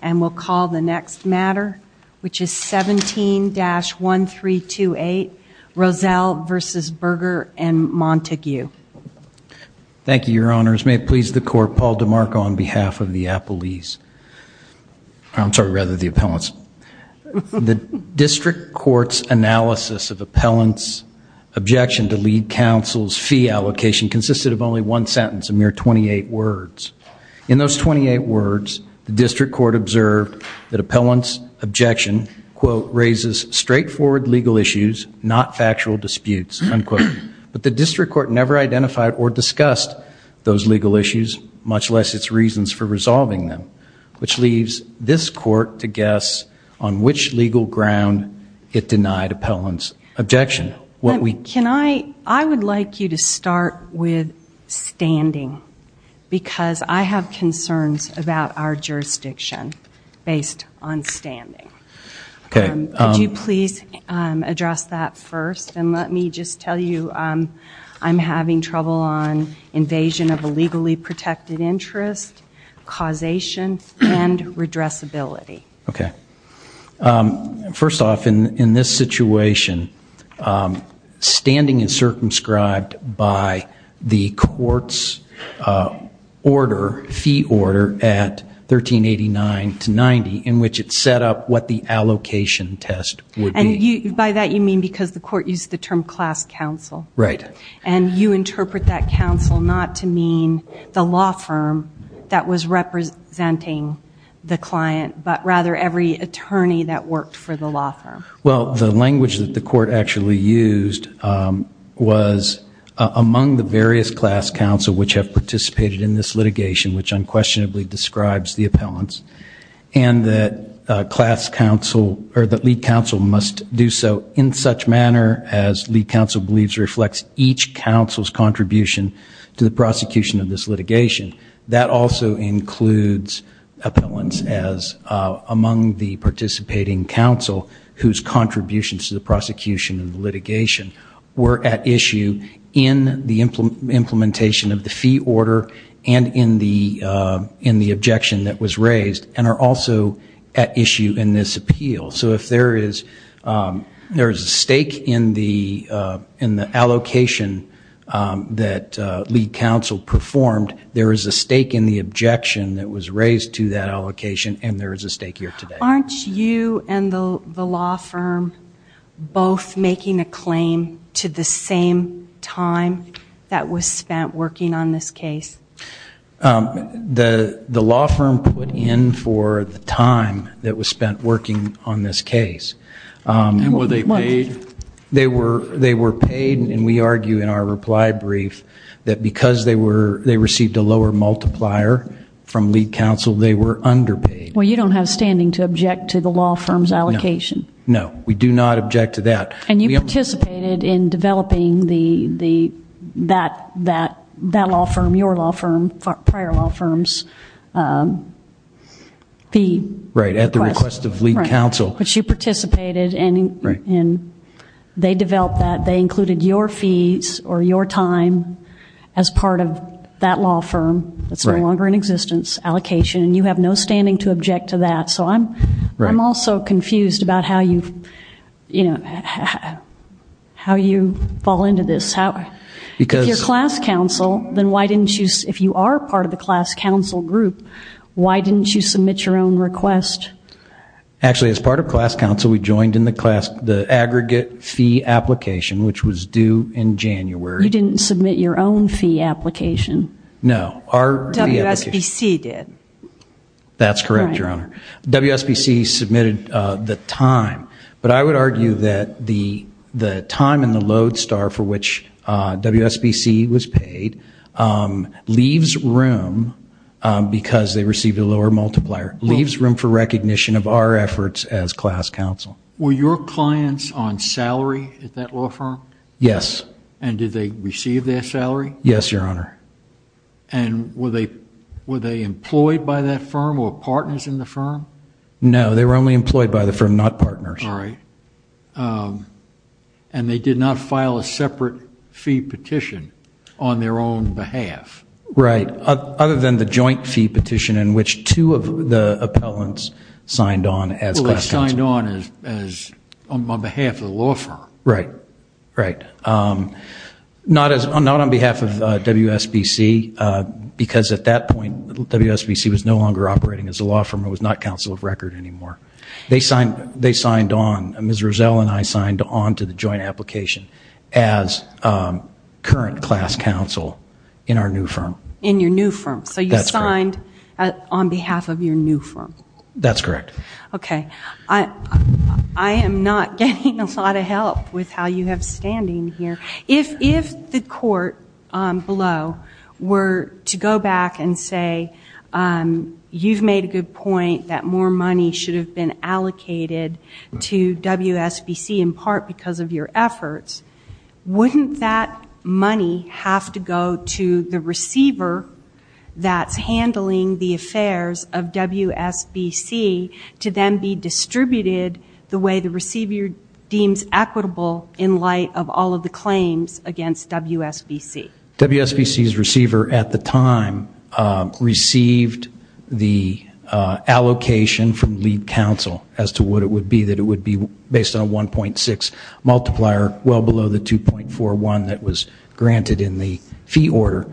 And we'll call the next matter, which is 17-1328, Roselle v. Berger & Montague. Thank you, your honors. May it please the court, Paul DeMarco on behalf of the appellees. I'm sorry, rather the appellants. The district court's analysis of appellant's objection to lead counsel's fee allocation consisted of only one sentence, a mere 28 words. In those 28 words, the district court observed that appellant's objection, quote, raises straightforward legal issues, not factual disputes, unquote. But the district court never identified or discussed those legal issues, much less its reasons for resolving them, which leaves this court to guess on which legal ground it denied appellant's objection. I would like you to start with standing, because I have concerns about our jurisdiction based on standing. Could you please address that first? And let me just tell you, I'm having trouble on invasion of a legally protected interest, causation, and redressability. OK. First off, in this situation, standing is circumscribed by the court's order, fee order at 1389 to 90, in which it set up what the allocation test would be. And by that, you mean because the court used the term class counsel. Right. And you interpret that counsel not to mean the law firm that was representing the client, but rather every attorney that worked for the law firm. Well, the language that the court actually used was among the various class counsel which have participated in this litigation, which unquestionably describes the appellants, and that class counsel, or that lead counsel, must do so in such manner as lead counsel believes reflects each counsel's contribution to the prosecution of this litigation. That also includes appellants as among the participating counsel whose contributions to the prosecution of the litigation were at issue in the implementation of the fee order and in the objection that was raised, and are also at issue in this appeal. So if there is a stake in the allocation that lead counsel performed, there is a stake in the objection that was raised to that allocation, and there is a stake here today. Aren't you and the law firm both making a claim to the same time that was spent working on this case? The law firm put in for the time that was spent working on this case. And were they paid? They were paid. And we argue in our reply brief that because they received a lower multiplier from lead counsel, they were underpaid. Well, you don't have standing to object to the law firm's allocation. No, we do not object to that. And you participated in developing that law firm, your law firm, prior law firm's fee request. Right, at the request of lead counsel. But you participated, and they developed that. They included your fees or your time as part of that law firm that's no longer in existence, allocation. And you have no standing to object to that. So I'm also confused about how you fall into this. If you're class counsel, then why didn't you, if you are part of the class counsel group, why didn't you submit your own request? Actually, as part of class counsel, we joined in the aggregate fee application, which was due in January. You didn't submit your own fee application. No, our fee application. WSBC did. That's correct, Your Honor. WSBC submitted the time. But I would argue that the time and the load star for which WSBC was paid leaves room, because they received a lower multiplier, leaves room for recognition of our efforts as class counsel. Were your clients on salary at that law firm? Yes. And did they receive their salary? Yes, Your Honor. And were they employed by that firm or partners in the firm? No, they were only employed by the firm, not partners. All right. And they did not file a separate fee petition on their own behalf? Right, other than the joint fee petition in which two of the appellants signed on as class counsel. Well, they signed on on behalf of the law firm. Right, right. Not on behalf of WSBC, because at that point, WSBC was no longer operating as a law firm. It was not counsel of record anymore. They signed on. Ms. Rozelle and I signed on to the joint application as current class counsel in our new firm. In your new firm. So you signed on behalf of your new firm. That's correct. OK. I am not getting a lot of help with how you have standing here. If the court below were to go back and say, you've made a good point that more money should have been allocated to WSBC in part because of your efforts, wouldn't that money have to go to the receiver that's handling the affairs of WSBC to then be distributed the way the receiver deems equitable in light of all of the claims against WSBC? WSBC's receiver at the time received the allocation from lead counsel as to what it would be, that it would be based on a 1.6 multiplier well below the 2.41 that was granted in the fee order.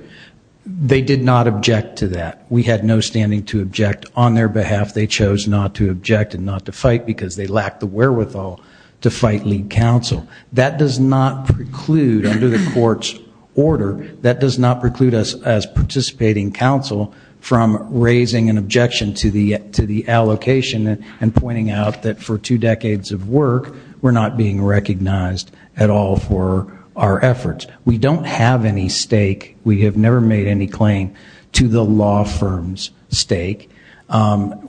They did not object to that. We had no standing to object on their behalf. They chose not to object and not to fight because they lacked the wherewithal to fight lead counsel. That does not preclude under the court's order, that does not preclude us as participating counsel from raising an objection to the allocation and pointing out that for two decades of work, we're not being recognized at all for our efforts. We don't have any stake. We have never made any claim to the law firm's stake.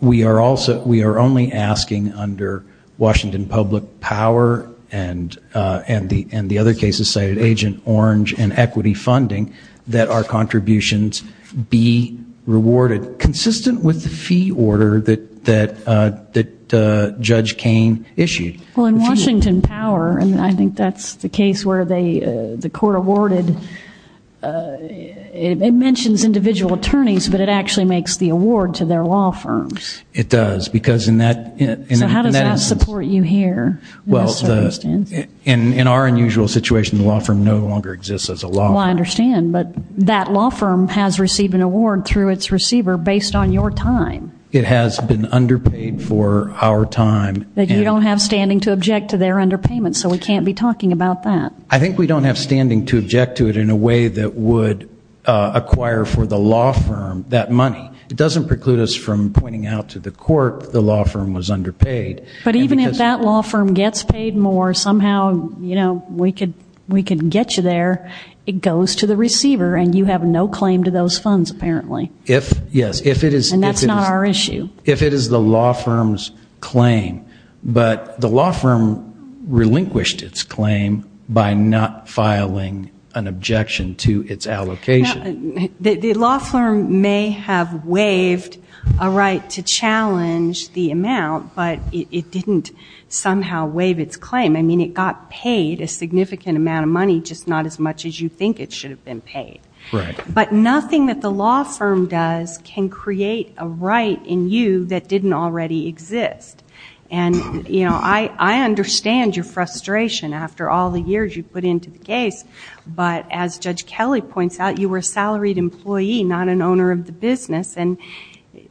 We are only asking under Washington public power and the other cases cited, Agent Orange and equity funding, that our contributions be rewarded consistent with the fee order that Judge Cain issued. Well, in Washington power, and I think that's the case where the court awarded, it mentions individual attorneys, but it actually makes the award to their law firms. It does because in that instance. So how does that support you here? Well, in our unusual situation, the law firm no longer exists as a law firm. Well, I understand, but that law firm has received an award through its receiver based on your time. It has been underpaid for our time. That you don't have standing to object to their underpayment, so we can't be talking about that. I think we don't have standing to object to it in a way that would acquire for the law firm that money. It doesn't preclude us from pointing out to the court the law firm was underpaid. But even if that law firm gets paid more, somehow, you know, we could get you there, it goes to the receiver and you have no claim to those funds apparently. If, yes, if it is. And that's not our issue. If it is the law firm's claim, but the law firm relinquished its claim by not filing an objection to its allocation. The law firm may have waived a right to challenge the amount, but it didn't somehow waive its claim. I mean, it got paid a significant amount of money, just not as much as you think it should have been paid. But nothing that the law firm does can create a right in you that didn't already exist. And, you know, I understand your frustration after all the years you put into the case. But as Judge Kelly points out, you were a salaried employee, not an owner of the business. And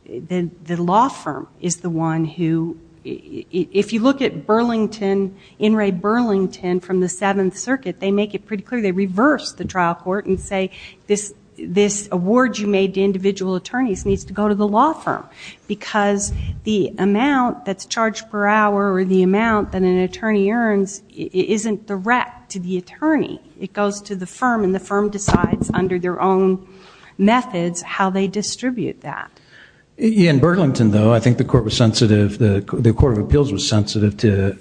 the law firm is the one who, if you look at Burlington, In re Burlington from the Seventh Circuit, they make it pretty clear. They reverse the trial court and say this award you made to individual attorneys needs to go to the law firm because the amount that's charged per hour or the amount that an attorney earns isn't direct to the attorney. It goes to the firm and the firm decides under their own methods how they distribute that. In Burlington, though, I think the Court of Appeals was sensitive to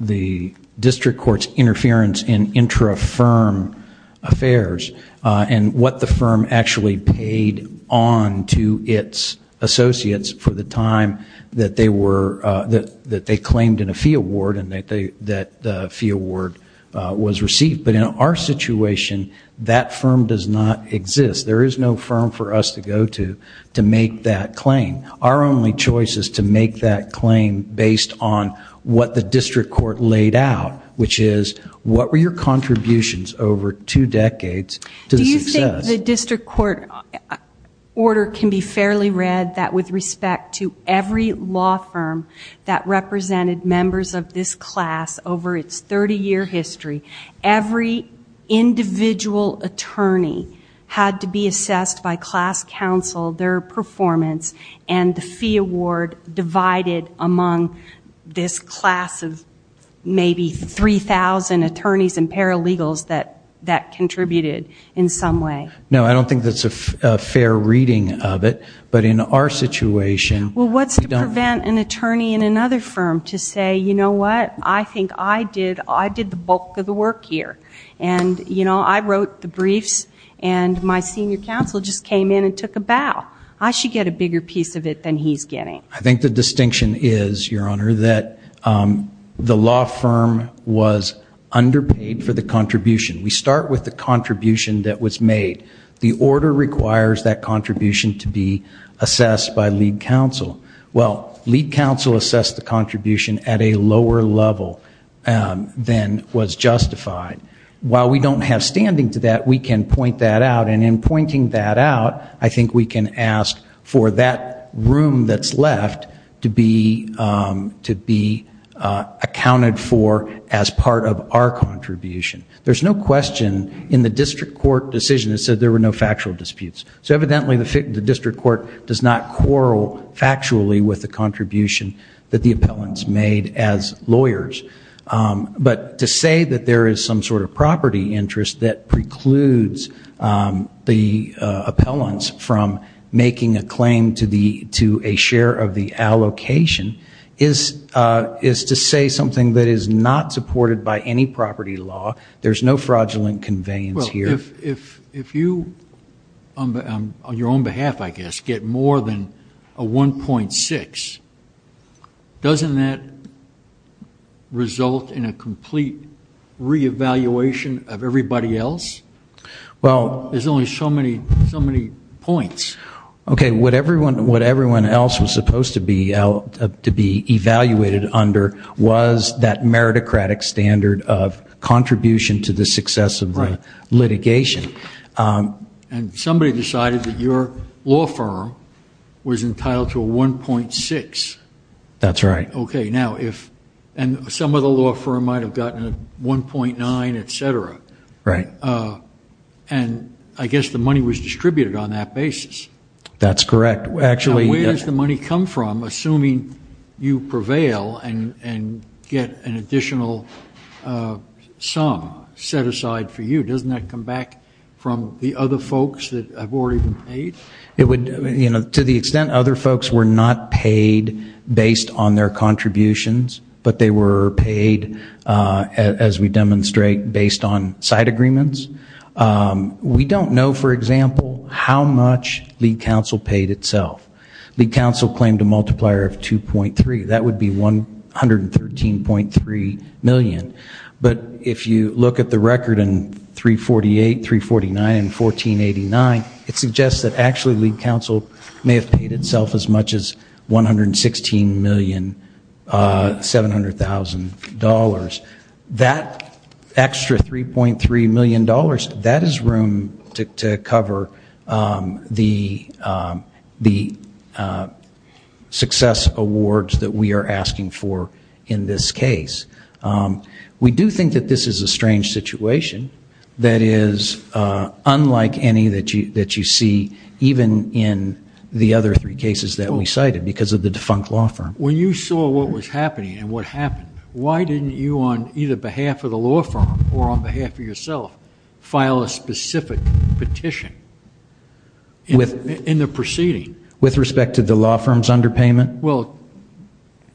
the district court's interference in intra-firm affairs and what the firm actually paid on to its associates for the time that they claimed in a fee award and that the fee award was received. But in our situation, that firm does not exist. There is no firm for us to go to to make that claim. Our only choice is to make that claim based on what the district court laid out, which is what were your contributions over two decades to the success? Do you think the district court order can be fairly read that with respect to every law firm that represented members of this class over its 30-year history, every individual attorney had to be assessed by class counsel, their performance, and the fee award divided among this class of maybe 3,000 attorneys and paralegals that contributed in some way? No, I don't think that's a fair reading of it. But in our situation, we don't. Well, what's to prevent an attorney in another firm to say, you know what? I think I did the bulk of the work here. And I wrote the briefs, and my senior counsel just came in and took a bow. I should get a bigger piece of it than he's getting. I think the distinction is, Your Honor, that the law firm was underpaid for the contribution. We start with the contribution that was made. The order requires that contribution to be assessed by lead counsel. Well, lead counsel assessed the contribution at a lower level than was justified. While we don't have standing to that, we can point that out. And in pointing that out, I think we can ask for that room that's left to be accounted for as part of our contribution. There's no question in the district court decision that said there were no factual disputes. So evidently, the district court does not quarrel factually with the contribution that the appellants made as lawyers. But to say that there is some sort of property interest that precludes the appellants from making a claim to a share of the allocation is to say something that is not supported by any property law. There's no fraudulent conveyance here. Well, if you, on your own behalf, I guess, get more than a 1.6, doesn't that result in a complete re-evaluation of everybody else? Well, there's only so many points. OK, what everyone else was supposed to be evaluated under was that meritocratic standard of contribution to the success of the litigation. And somebody decided that your law firm was entitled to a 1.6. That's right. And some of the law firm might have gotten a 1.9, et cetera. And I guess the money was distributed on that basis. That's correct. Actually, yeah. Where does the money come from, assuming you prevail and get an additional sum set aside for you? Doesn't that come back from the other folks that have already been paid? To the extent other folks were not paid based on their contributions, but they were paid, as we demonstrate, based on side agreements. We don't know, for example, how much the council paid itself. The council claimed a multiplier of 2.3. That would be $113.3 million. But if you look at the record in 348, 349, and 1489, it suggests that actually the council may have paid itself as much as $116,700,000. That extra $3.3 million, that is room to cover the success awards that we are asking for in this case. We do think that this is a strange situation that is unlike any that you see, even in the other three cases that we cited, because of the defunct law firm. When you saw what was happening and what happened, why didn't you, on either behalf of the law firm or on behalf of yourself, file a specific petition in the proceeding? With respect to the law firm's underpayment? Well,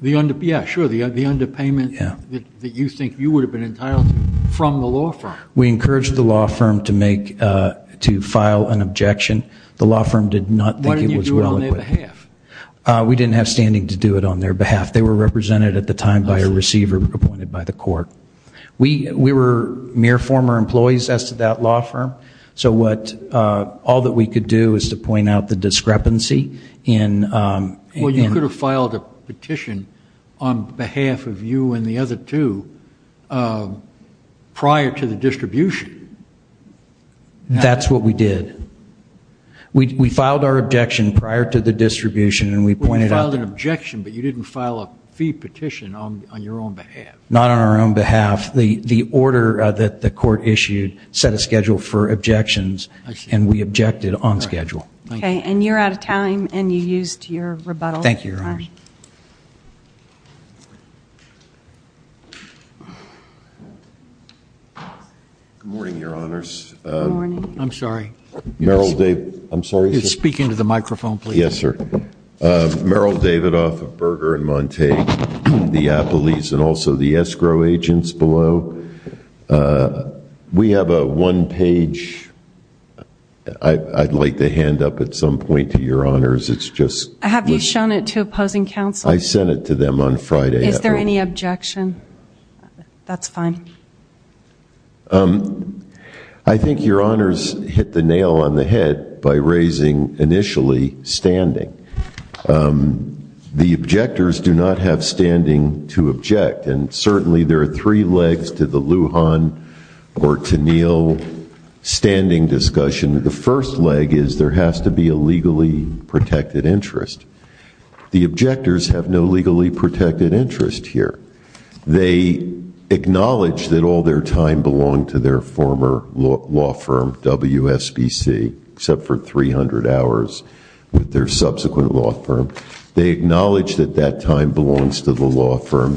yeah, sure, the underpayment that you think you would have been entitled to from the law firm. We encouraged the law firm to file an objection. The law firm did not think it was well equipped. Why didn't you do it on their behalf? We didn't have standing to do it on their behalf. They were represented at the time by a receiver appointed by the court. We were mere former employees as to that law firm. So all that we could do is to point out the discrepancy in. Well, you could have filed a petition on behalf of you and the other two prior to the distribution. That's what we did. We filed our objection prior to the distribution, and we pointed out. You filed an objection, but you didn't file a fee petition on your own behalf. Not on our own behalf. The order that the court issued set a schedule for objections, and we objected on schedule. And you're out of time, and you used your rebuttal time. Thank you, Your Honor. Good morning, Your Honors. I'm sorry. Meryl Davidoff. I'm sorry. Speak into the microphone, please. Yes, sir. Meryl Davidoff of Berger and Monte, the police, and also the escrow agents below. We have a one page. I'd like to hand up at some point to Your Honors. It's just. Have you shown it to opposing counsel? I sent it to them on Friday. Is there any objection? That's fine. I think Your Honors hit the nail on the head by raising, initially, standing. The objectors do not have standing to object, and certainly there are three legs to the Lujan or to Neal standing discussion. The first leg is there has to be a legally protected interest. The objectors have no legally protected interest here. They acknowledge that all their time belonged to their former law firm, WSBC, except for 300 hours with their subsequent law firm. They acknowledge that that time belongs to the law firm.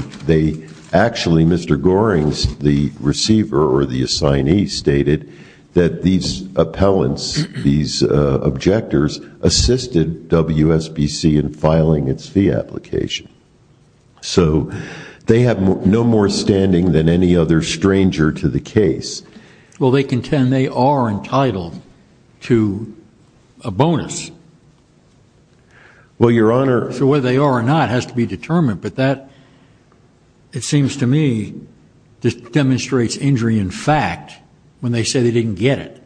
Actually, Mr. Goring, the receiver or the assignee, stated that these appellants, these objectors, assisted WSBC in filing its fee application. So they have no more standing than any other stranger to the case. Well, they contend they are entitled to a bonus. Well, Your Honor. So whether they are or not has to be determined, but that, it seems to me, just demonstrates injury in fact when they say they didn't get it.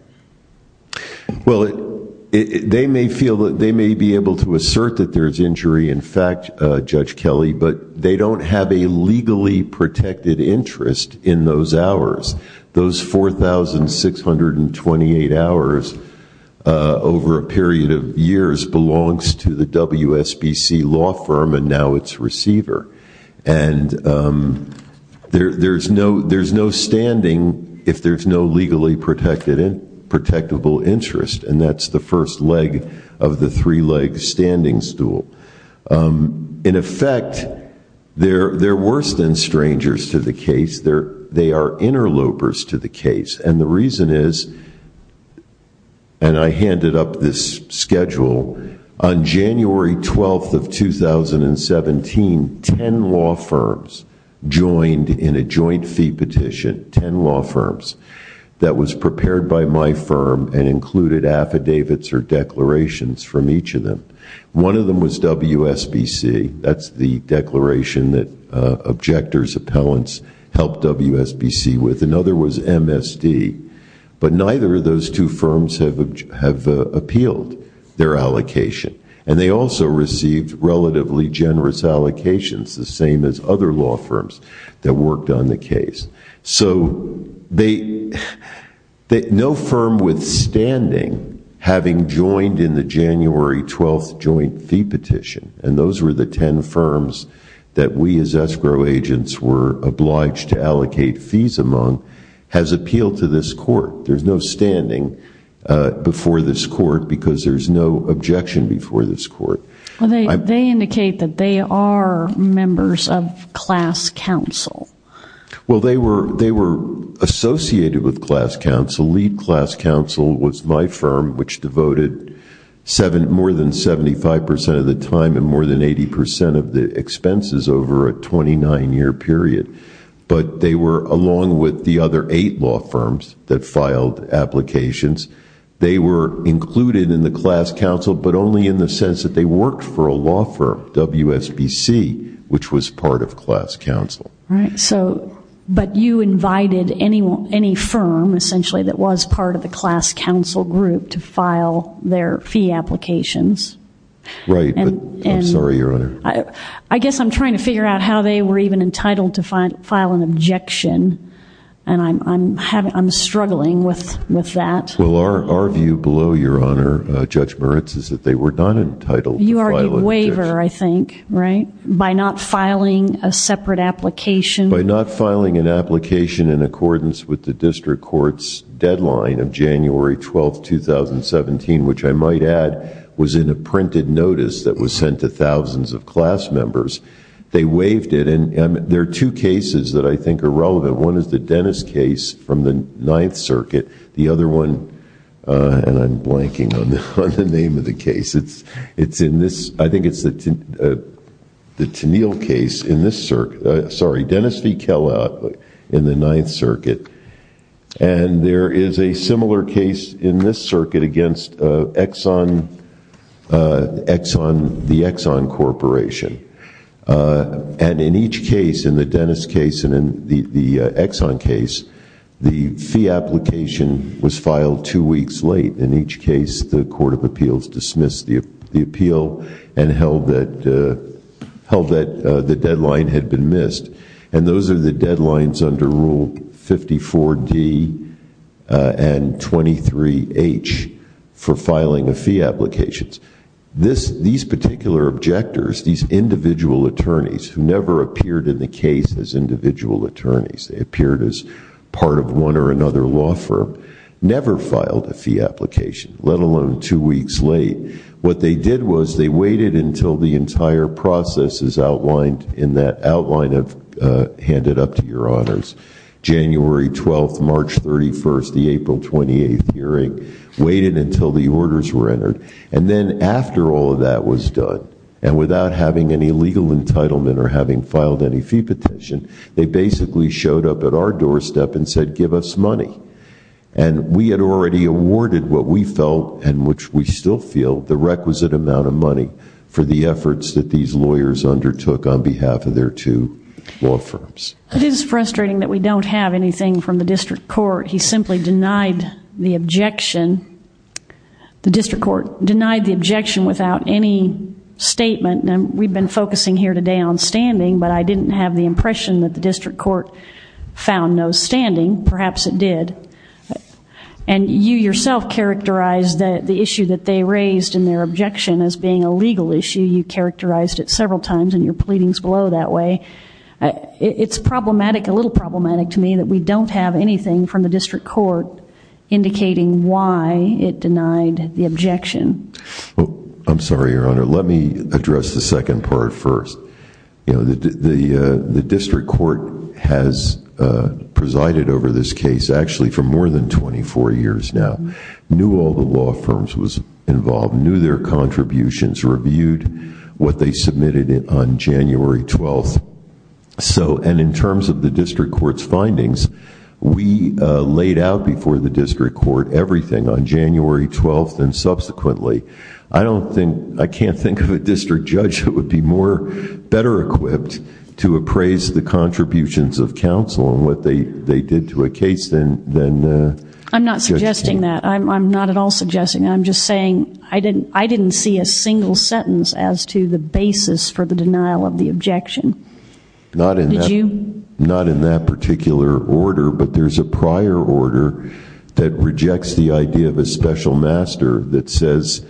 Well, they may feel that they may be able to assert that there is injury in fact, Judge Kelly, but they don't have a legally protected interest in those hours. Those 4,628 hours over a period of years belongs to the WSBC law firm and now its receiver. And there's no standing if there's no legally protectable interest. And that's the first leg of the three-leg standing stool. In effect, they're worse than strangers to the case. They are interlopers to the case. And the reason is, and I handed up this schedule, on January 12 of 2017, 10 law firms joined in a joint fee petition, 10 law firms, that was prepared by my firm and included affidavits or declarations from each of them. One of them was WSBC. That's the declaration that objectors, appellants, helped WSBC with. Another was MSD. But neither of those two firms have appealed their allocation. And they also received relatively generous allocations, the same as other law firms that worked on the case. So no firm withstanding, having joined in the January 12 joint fee petition, and those were the 10 firms that we as escrow agents were obliged to allocate fees among, has appealed to this court. There's no standing before this court because there's no objection before this court. They indicate that they are members of class counsel. Well, they were associated with class counsel. Lead class counsel was my firm, which devoted more than 75% of the time and more than 80% of the expenses over a 29-year period. But they were, along with the other eight law firms that filed applications, they were included in the class counsel, but only in the sense that they worked for a law firm, WSBC, which was part of class counsel. But you invited any firm, essentially, that was part of the class counsel group to file their fee applications. Right, but I'm sorry, Your Honor. I guess I'm trying to figure out how they were even entitled to file an objection, and I'm struggling with that. Well, our view below, Your Honor, Judge Moritz, is that they were not entitled to file an objection. You are a waiver, I think, right? By not filing a separate application. By not filing an application in accordance with the district court's deadline of January 12, 2017, which I might add was in a printed notice that was sent to thousands of class members. They waived it. And there are two cases that I think are relevant. One is the Dennis case from the Ninth Circuit. The other one, and I'm blanking on the name of the case, I think it's the Tennille case in this circuit. Sorry, Dennis v. Kellaut in the Ninth Circuit. And there is a similar case in this circuit against the Exxon Corporation. And in each case, in the Dennis case and in the Exxon case, the fee application was filed two weeks late. In each case, the Court of Appeals dismissed the appeal and held that the deadline had been missed. And those are the deadlines under Rule 54D and 23H for filing of fee applications. These particular objectors, these individual attorneys who never appeared in the case as individual attorneys, they appeared as part of one or another law firm, never filed a fee application, let alone two weeks late. What they did was they waited until the entire process in that outline I've handed up to your honors, January 12, March 31, the April 28 hearing, waited until the orders were entered. And then after all of that was done, and without having any legal entitlement or having filed any fee petition, they basically showed up at our doorstep and said, give us money. And we had already awarded what we felt, and which we still feel, the requisite amount of money for the efforts that these lawyers undertook on behalf of their two law firms. It is frustrating that we don't have anything from the district court. He simply denied the objection. The district court denied the objection without any statement. And we've been focusing here today on standing, but I didn't have the impression that the district court found no standing. Perhaps it did. And you yourself characterized the issue that they raised in their objection as being a legal issue. You characterized it several times in your pleadings below that way. It's problematic, a little problematic to me, that we don't have anything from the district court indicating why it denied the objection. I'm sorry, Your Honor. Let me address the second part first. The district court has presided over this case, actually, for more than 24 years now. Knew all the law firms was involved, knew their contributions, reviewed what they submitted on January 12th. And in terms of the district court's findings, we laid out before the district court everything on January 12th and subsequently. I can't think of a district judge who would be better equipped to appraise the contributions of counsel and what they did to a case than the judge did. I'm not suggesting that. I'm not at all suggesting that. I'm just saying I didn't see a single sentence as to the basis for the denial of the objection. Not in that particular order, but there's a prior order that rejects the idea of a special master that says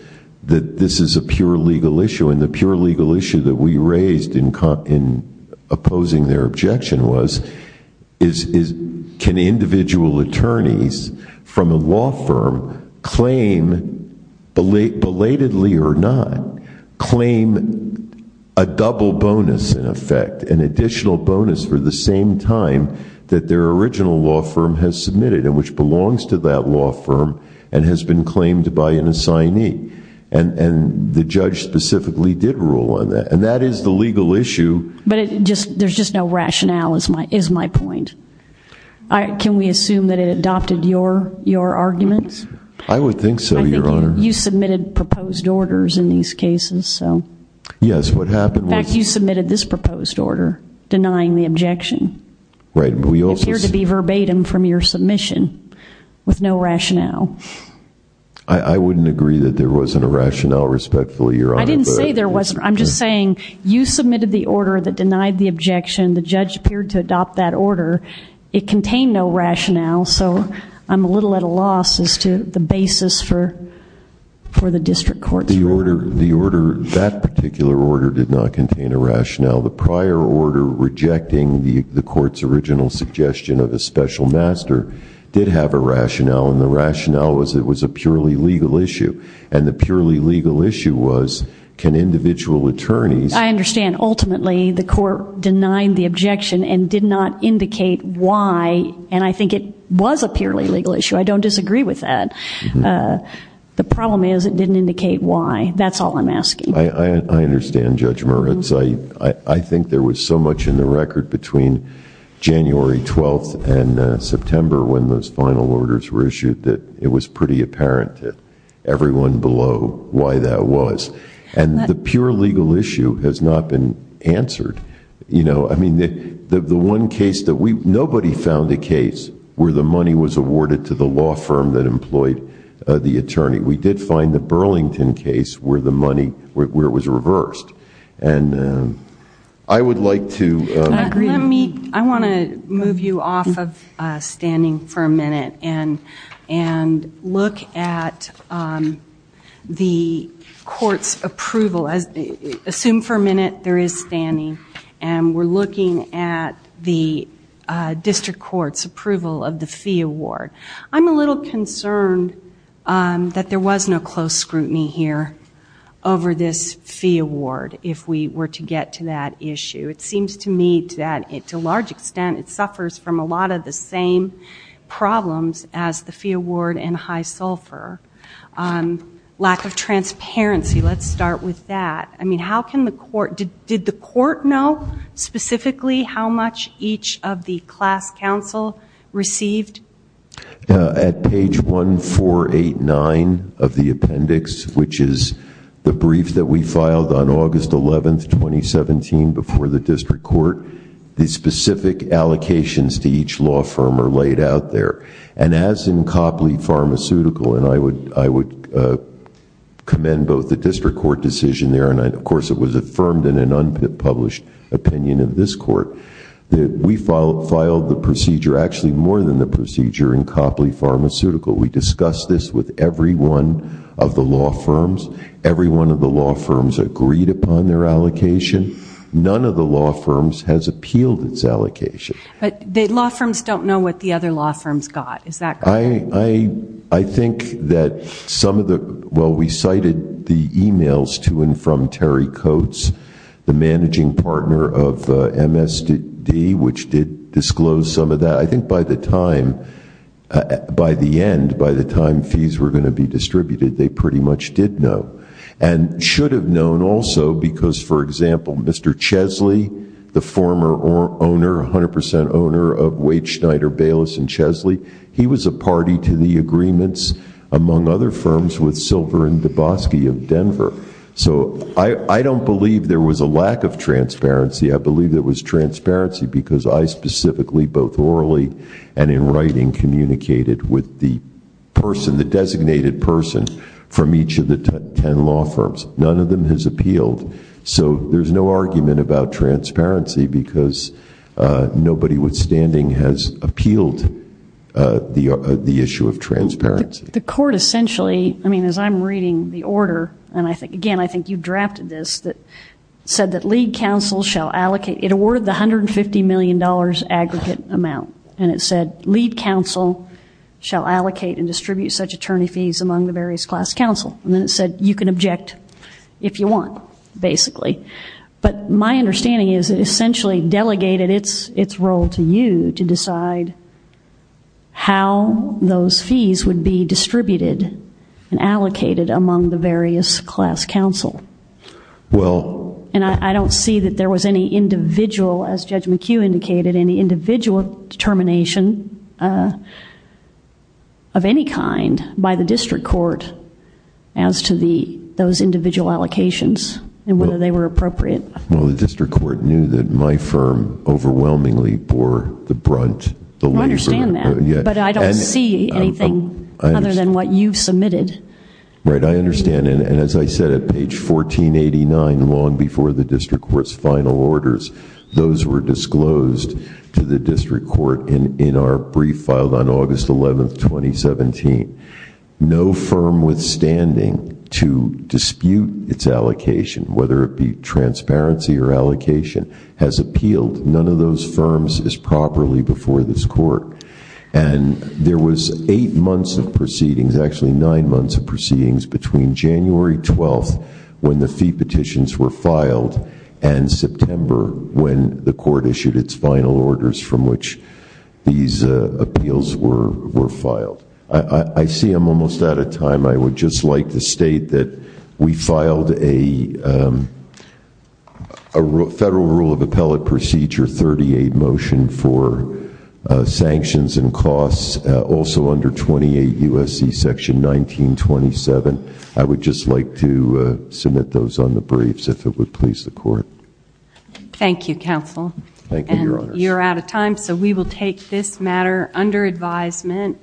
that this is a pure legal issue. And the pure legal issue that we raised in opposing their objection was, can individual attorneys from a law firm claim, belatedly or not, claim a double bonus in effect, an additional bonus for the same time that their original law firm has submitted and which belongs to that law firm and has been claimed by an assignee? And the judge specifically did rule on that. And that is the legal issue. But there's just no rationale, is my point. Can we assume that it adopted your argument? I would think so, Your Honor. You submitted proposed orders in these cases. Yes, what happened was. In fact, you submitted this proposed order, denying the objection. Right, but we also said. It appeared to be verbatim from your submission with no rationale. I wouldn't agree that there wasn't a rationale, respectfully, Your Honor. I didn't say there wasn't. I'm just saying you submitted the order that denied the objection. The judge appeared to adopt that order. It contained no rationale. So I'm a little at a loss as to the basis for the district court's ruling. The order, that particular order, did not contain a rationale. The prior order, rejecting the court's original suggestion of a special master, did have a rationale. And the rationale was it was a purely legal issue. And the purely legal issue was, can individual attorneys. I understand. Ultimately, the court denied the objection and did not indicate why. And I think it was a purely legal issue. I don't disagree with that. The problem is it didn't indicate why. That's all I'm asking. I understand, Judge Moritz. I think there was so much in the record between January 12th and September when those final orders were issued that it was pretty apparent to everyone below why that was. And the pure legal issue has not been answered. I mean, nobody found a case where the money was awarded to the law firm that employed the attorney. We did find the Burlington case where it was reversed. And I would like to agree. I want to move you off of standing for a minute and look at the court's approval. Assume for a minute there is standing. And we're looking at the district court's approval of the fee award. I'm a little concerned that there was no close scrutiny here over this fee award if we were to get to that issue. It seems to me that, to a large extent, it suffers from a lot of the same problems as the fee award and high sulfur. Lack of transparency. Let's start with that. I mean, did the court know specifically how much each of the class counsel received? At page 1489 of the appendix, which is the brief that we filed on August 11th, 2017 before the district court, the specific allocations to each law firm are laid out there. And as in Copley Pharmaceutical, and I would commend both the district court decision there, and of course it was affirmed in an unpublished opinion of this court, that we filed the procedure, actually more than the procedure, in Copley Pharmaceutical. We discussed this with every one of the law firms. Every one of the law firms agreed upon their allocation. None of the law firms has appealed its allocation. But the law firms don't know what the other law firms got. Is that correct? I think that some of the, well, we cited the emails to and from Terry Coates, the managing partner of MSD, which did disclose some of that. I think by the time, by the end, by the time fees were going to be distributed, they pretty much did know. And should have known also, because, for example, Mr. Chesley, the former owner, 100% owner of Wade, Schneider, Bayless, and Chesley, he was a party to the agreements, among other firms, with Silver and Dabowski of Denver. So I don't believe there was a lack of transparency. I believe there was transparency, because I specifically, both orally and in writing, communicated with the person, the designated person, from each of the 10 law firms. None of them has appealed. So there's no argument about transparency, because nobody withstanding has appealed the issue of transparency. The court essentially, I mean, as I'm reading the order, and I think, again, I think you drafted this, that said that lead counsel shall allocate, it awarded the $150 million aggregate amount. And it said, lead counsel shall allocate and distribute such attorney fees among the various class counsel. And then it said, you can object if you want, basically. But my understanding is it essentially delegated its role to you to decide how those fees would be distributed and allocated among the various class counsel. And I don't see that there was any individual, as Judge McHugh indicated, any individual determination of any kind by the district court as to those individual allocations and whether they were appropriate. Well, the district court knew that my firm overwhelmingly bore the brunt. I understand that. But I don't see anything other than what you've submitted. Right, I understand. And as I said, at page 1489, long before the district court's final orders, those were disclosed to the district court in our brief filed on August 11th, 2017. No firm withstanding to dispute its allocation, whether it be transparency or allocation, has appealed. None of those firms is properly before this court. And there was eight months of proceedings, actually nine months of proceedings between January 12th when the fee petitions were filed and September when the court issued its final orders from which these appeals were filed. I see I'm almost out of time. I would just like to state that we filed a Federal Rule of Appellate Procedure 38 motion for sanctions and costs, also under 28 U.S.C. Section 1927. I would just like to submit those on the briefs if it would please the court. Thank you, Counsel. Thank you, Your Honors. You're out of time, so we will take this matter under advisement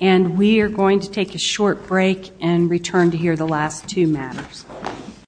and we are going to take a short break and return to hear the last two matters.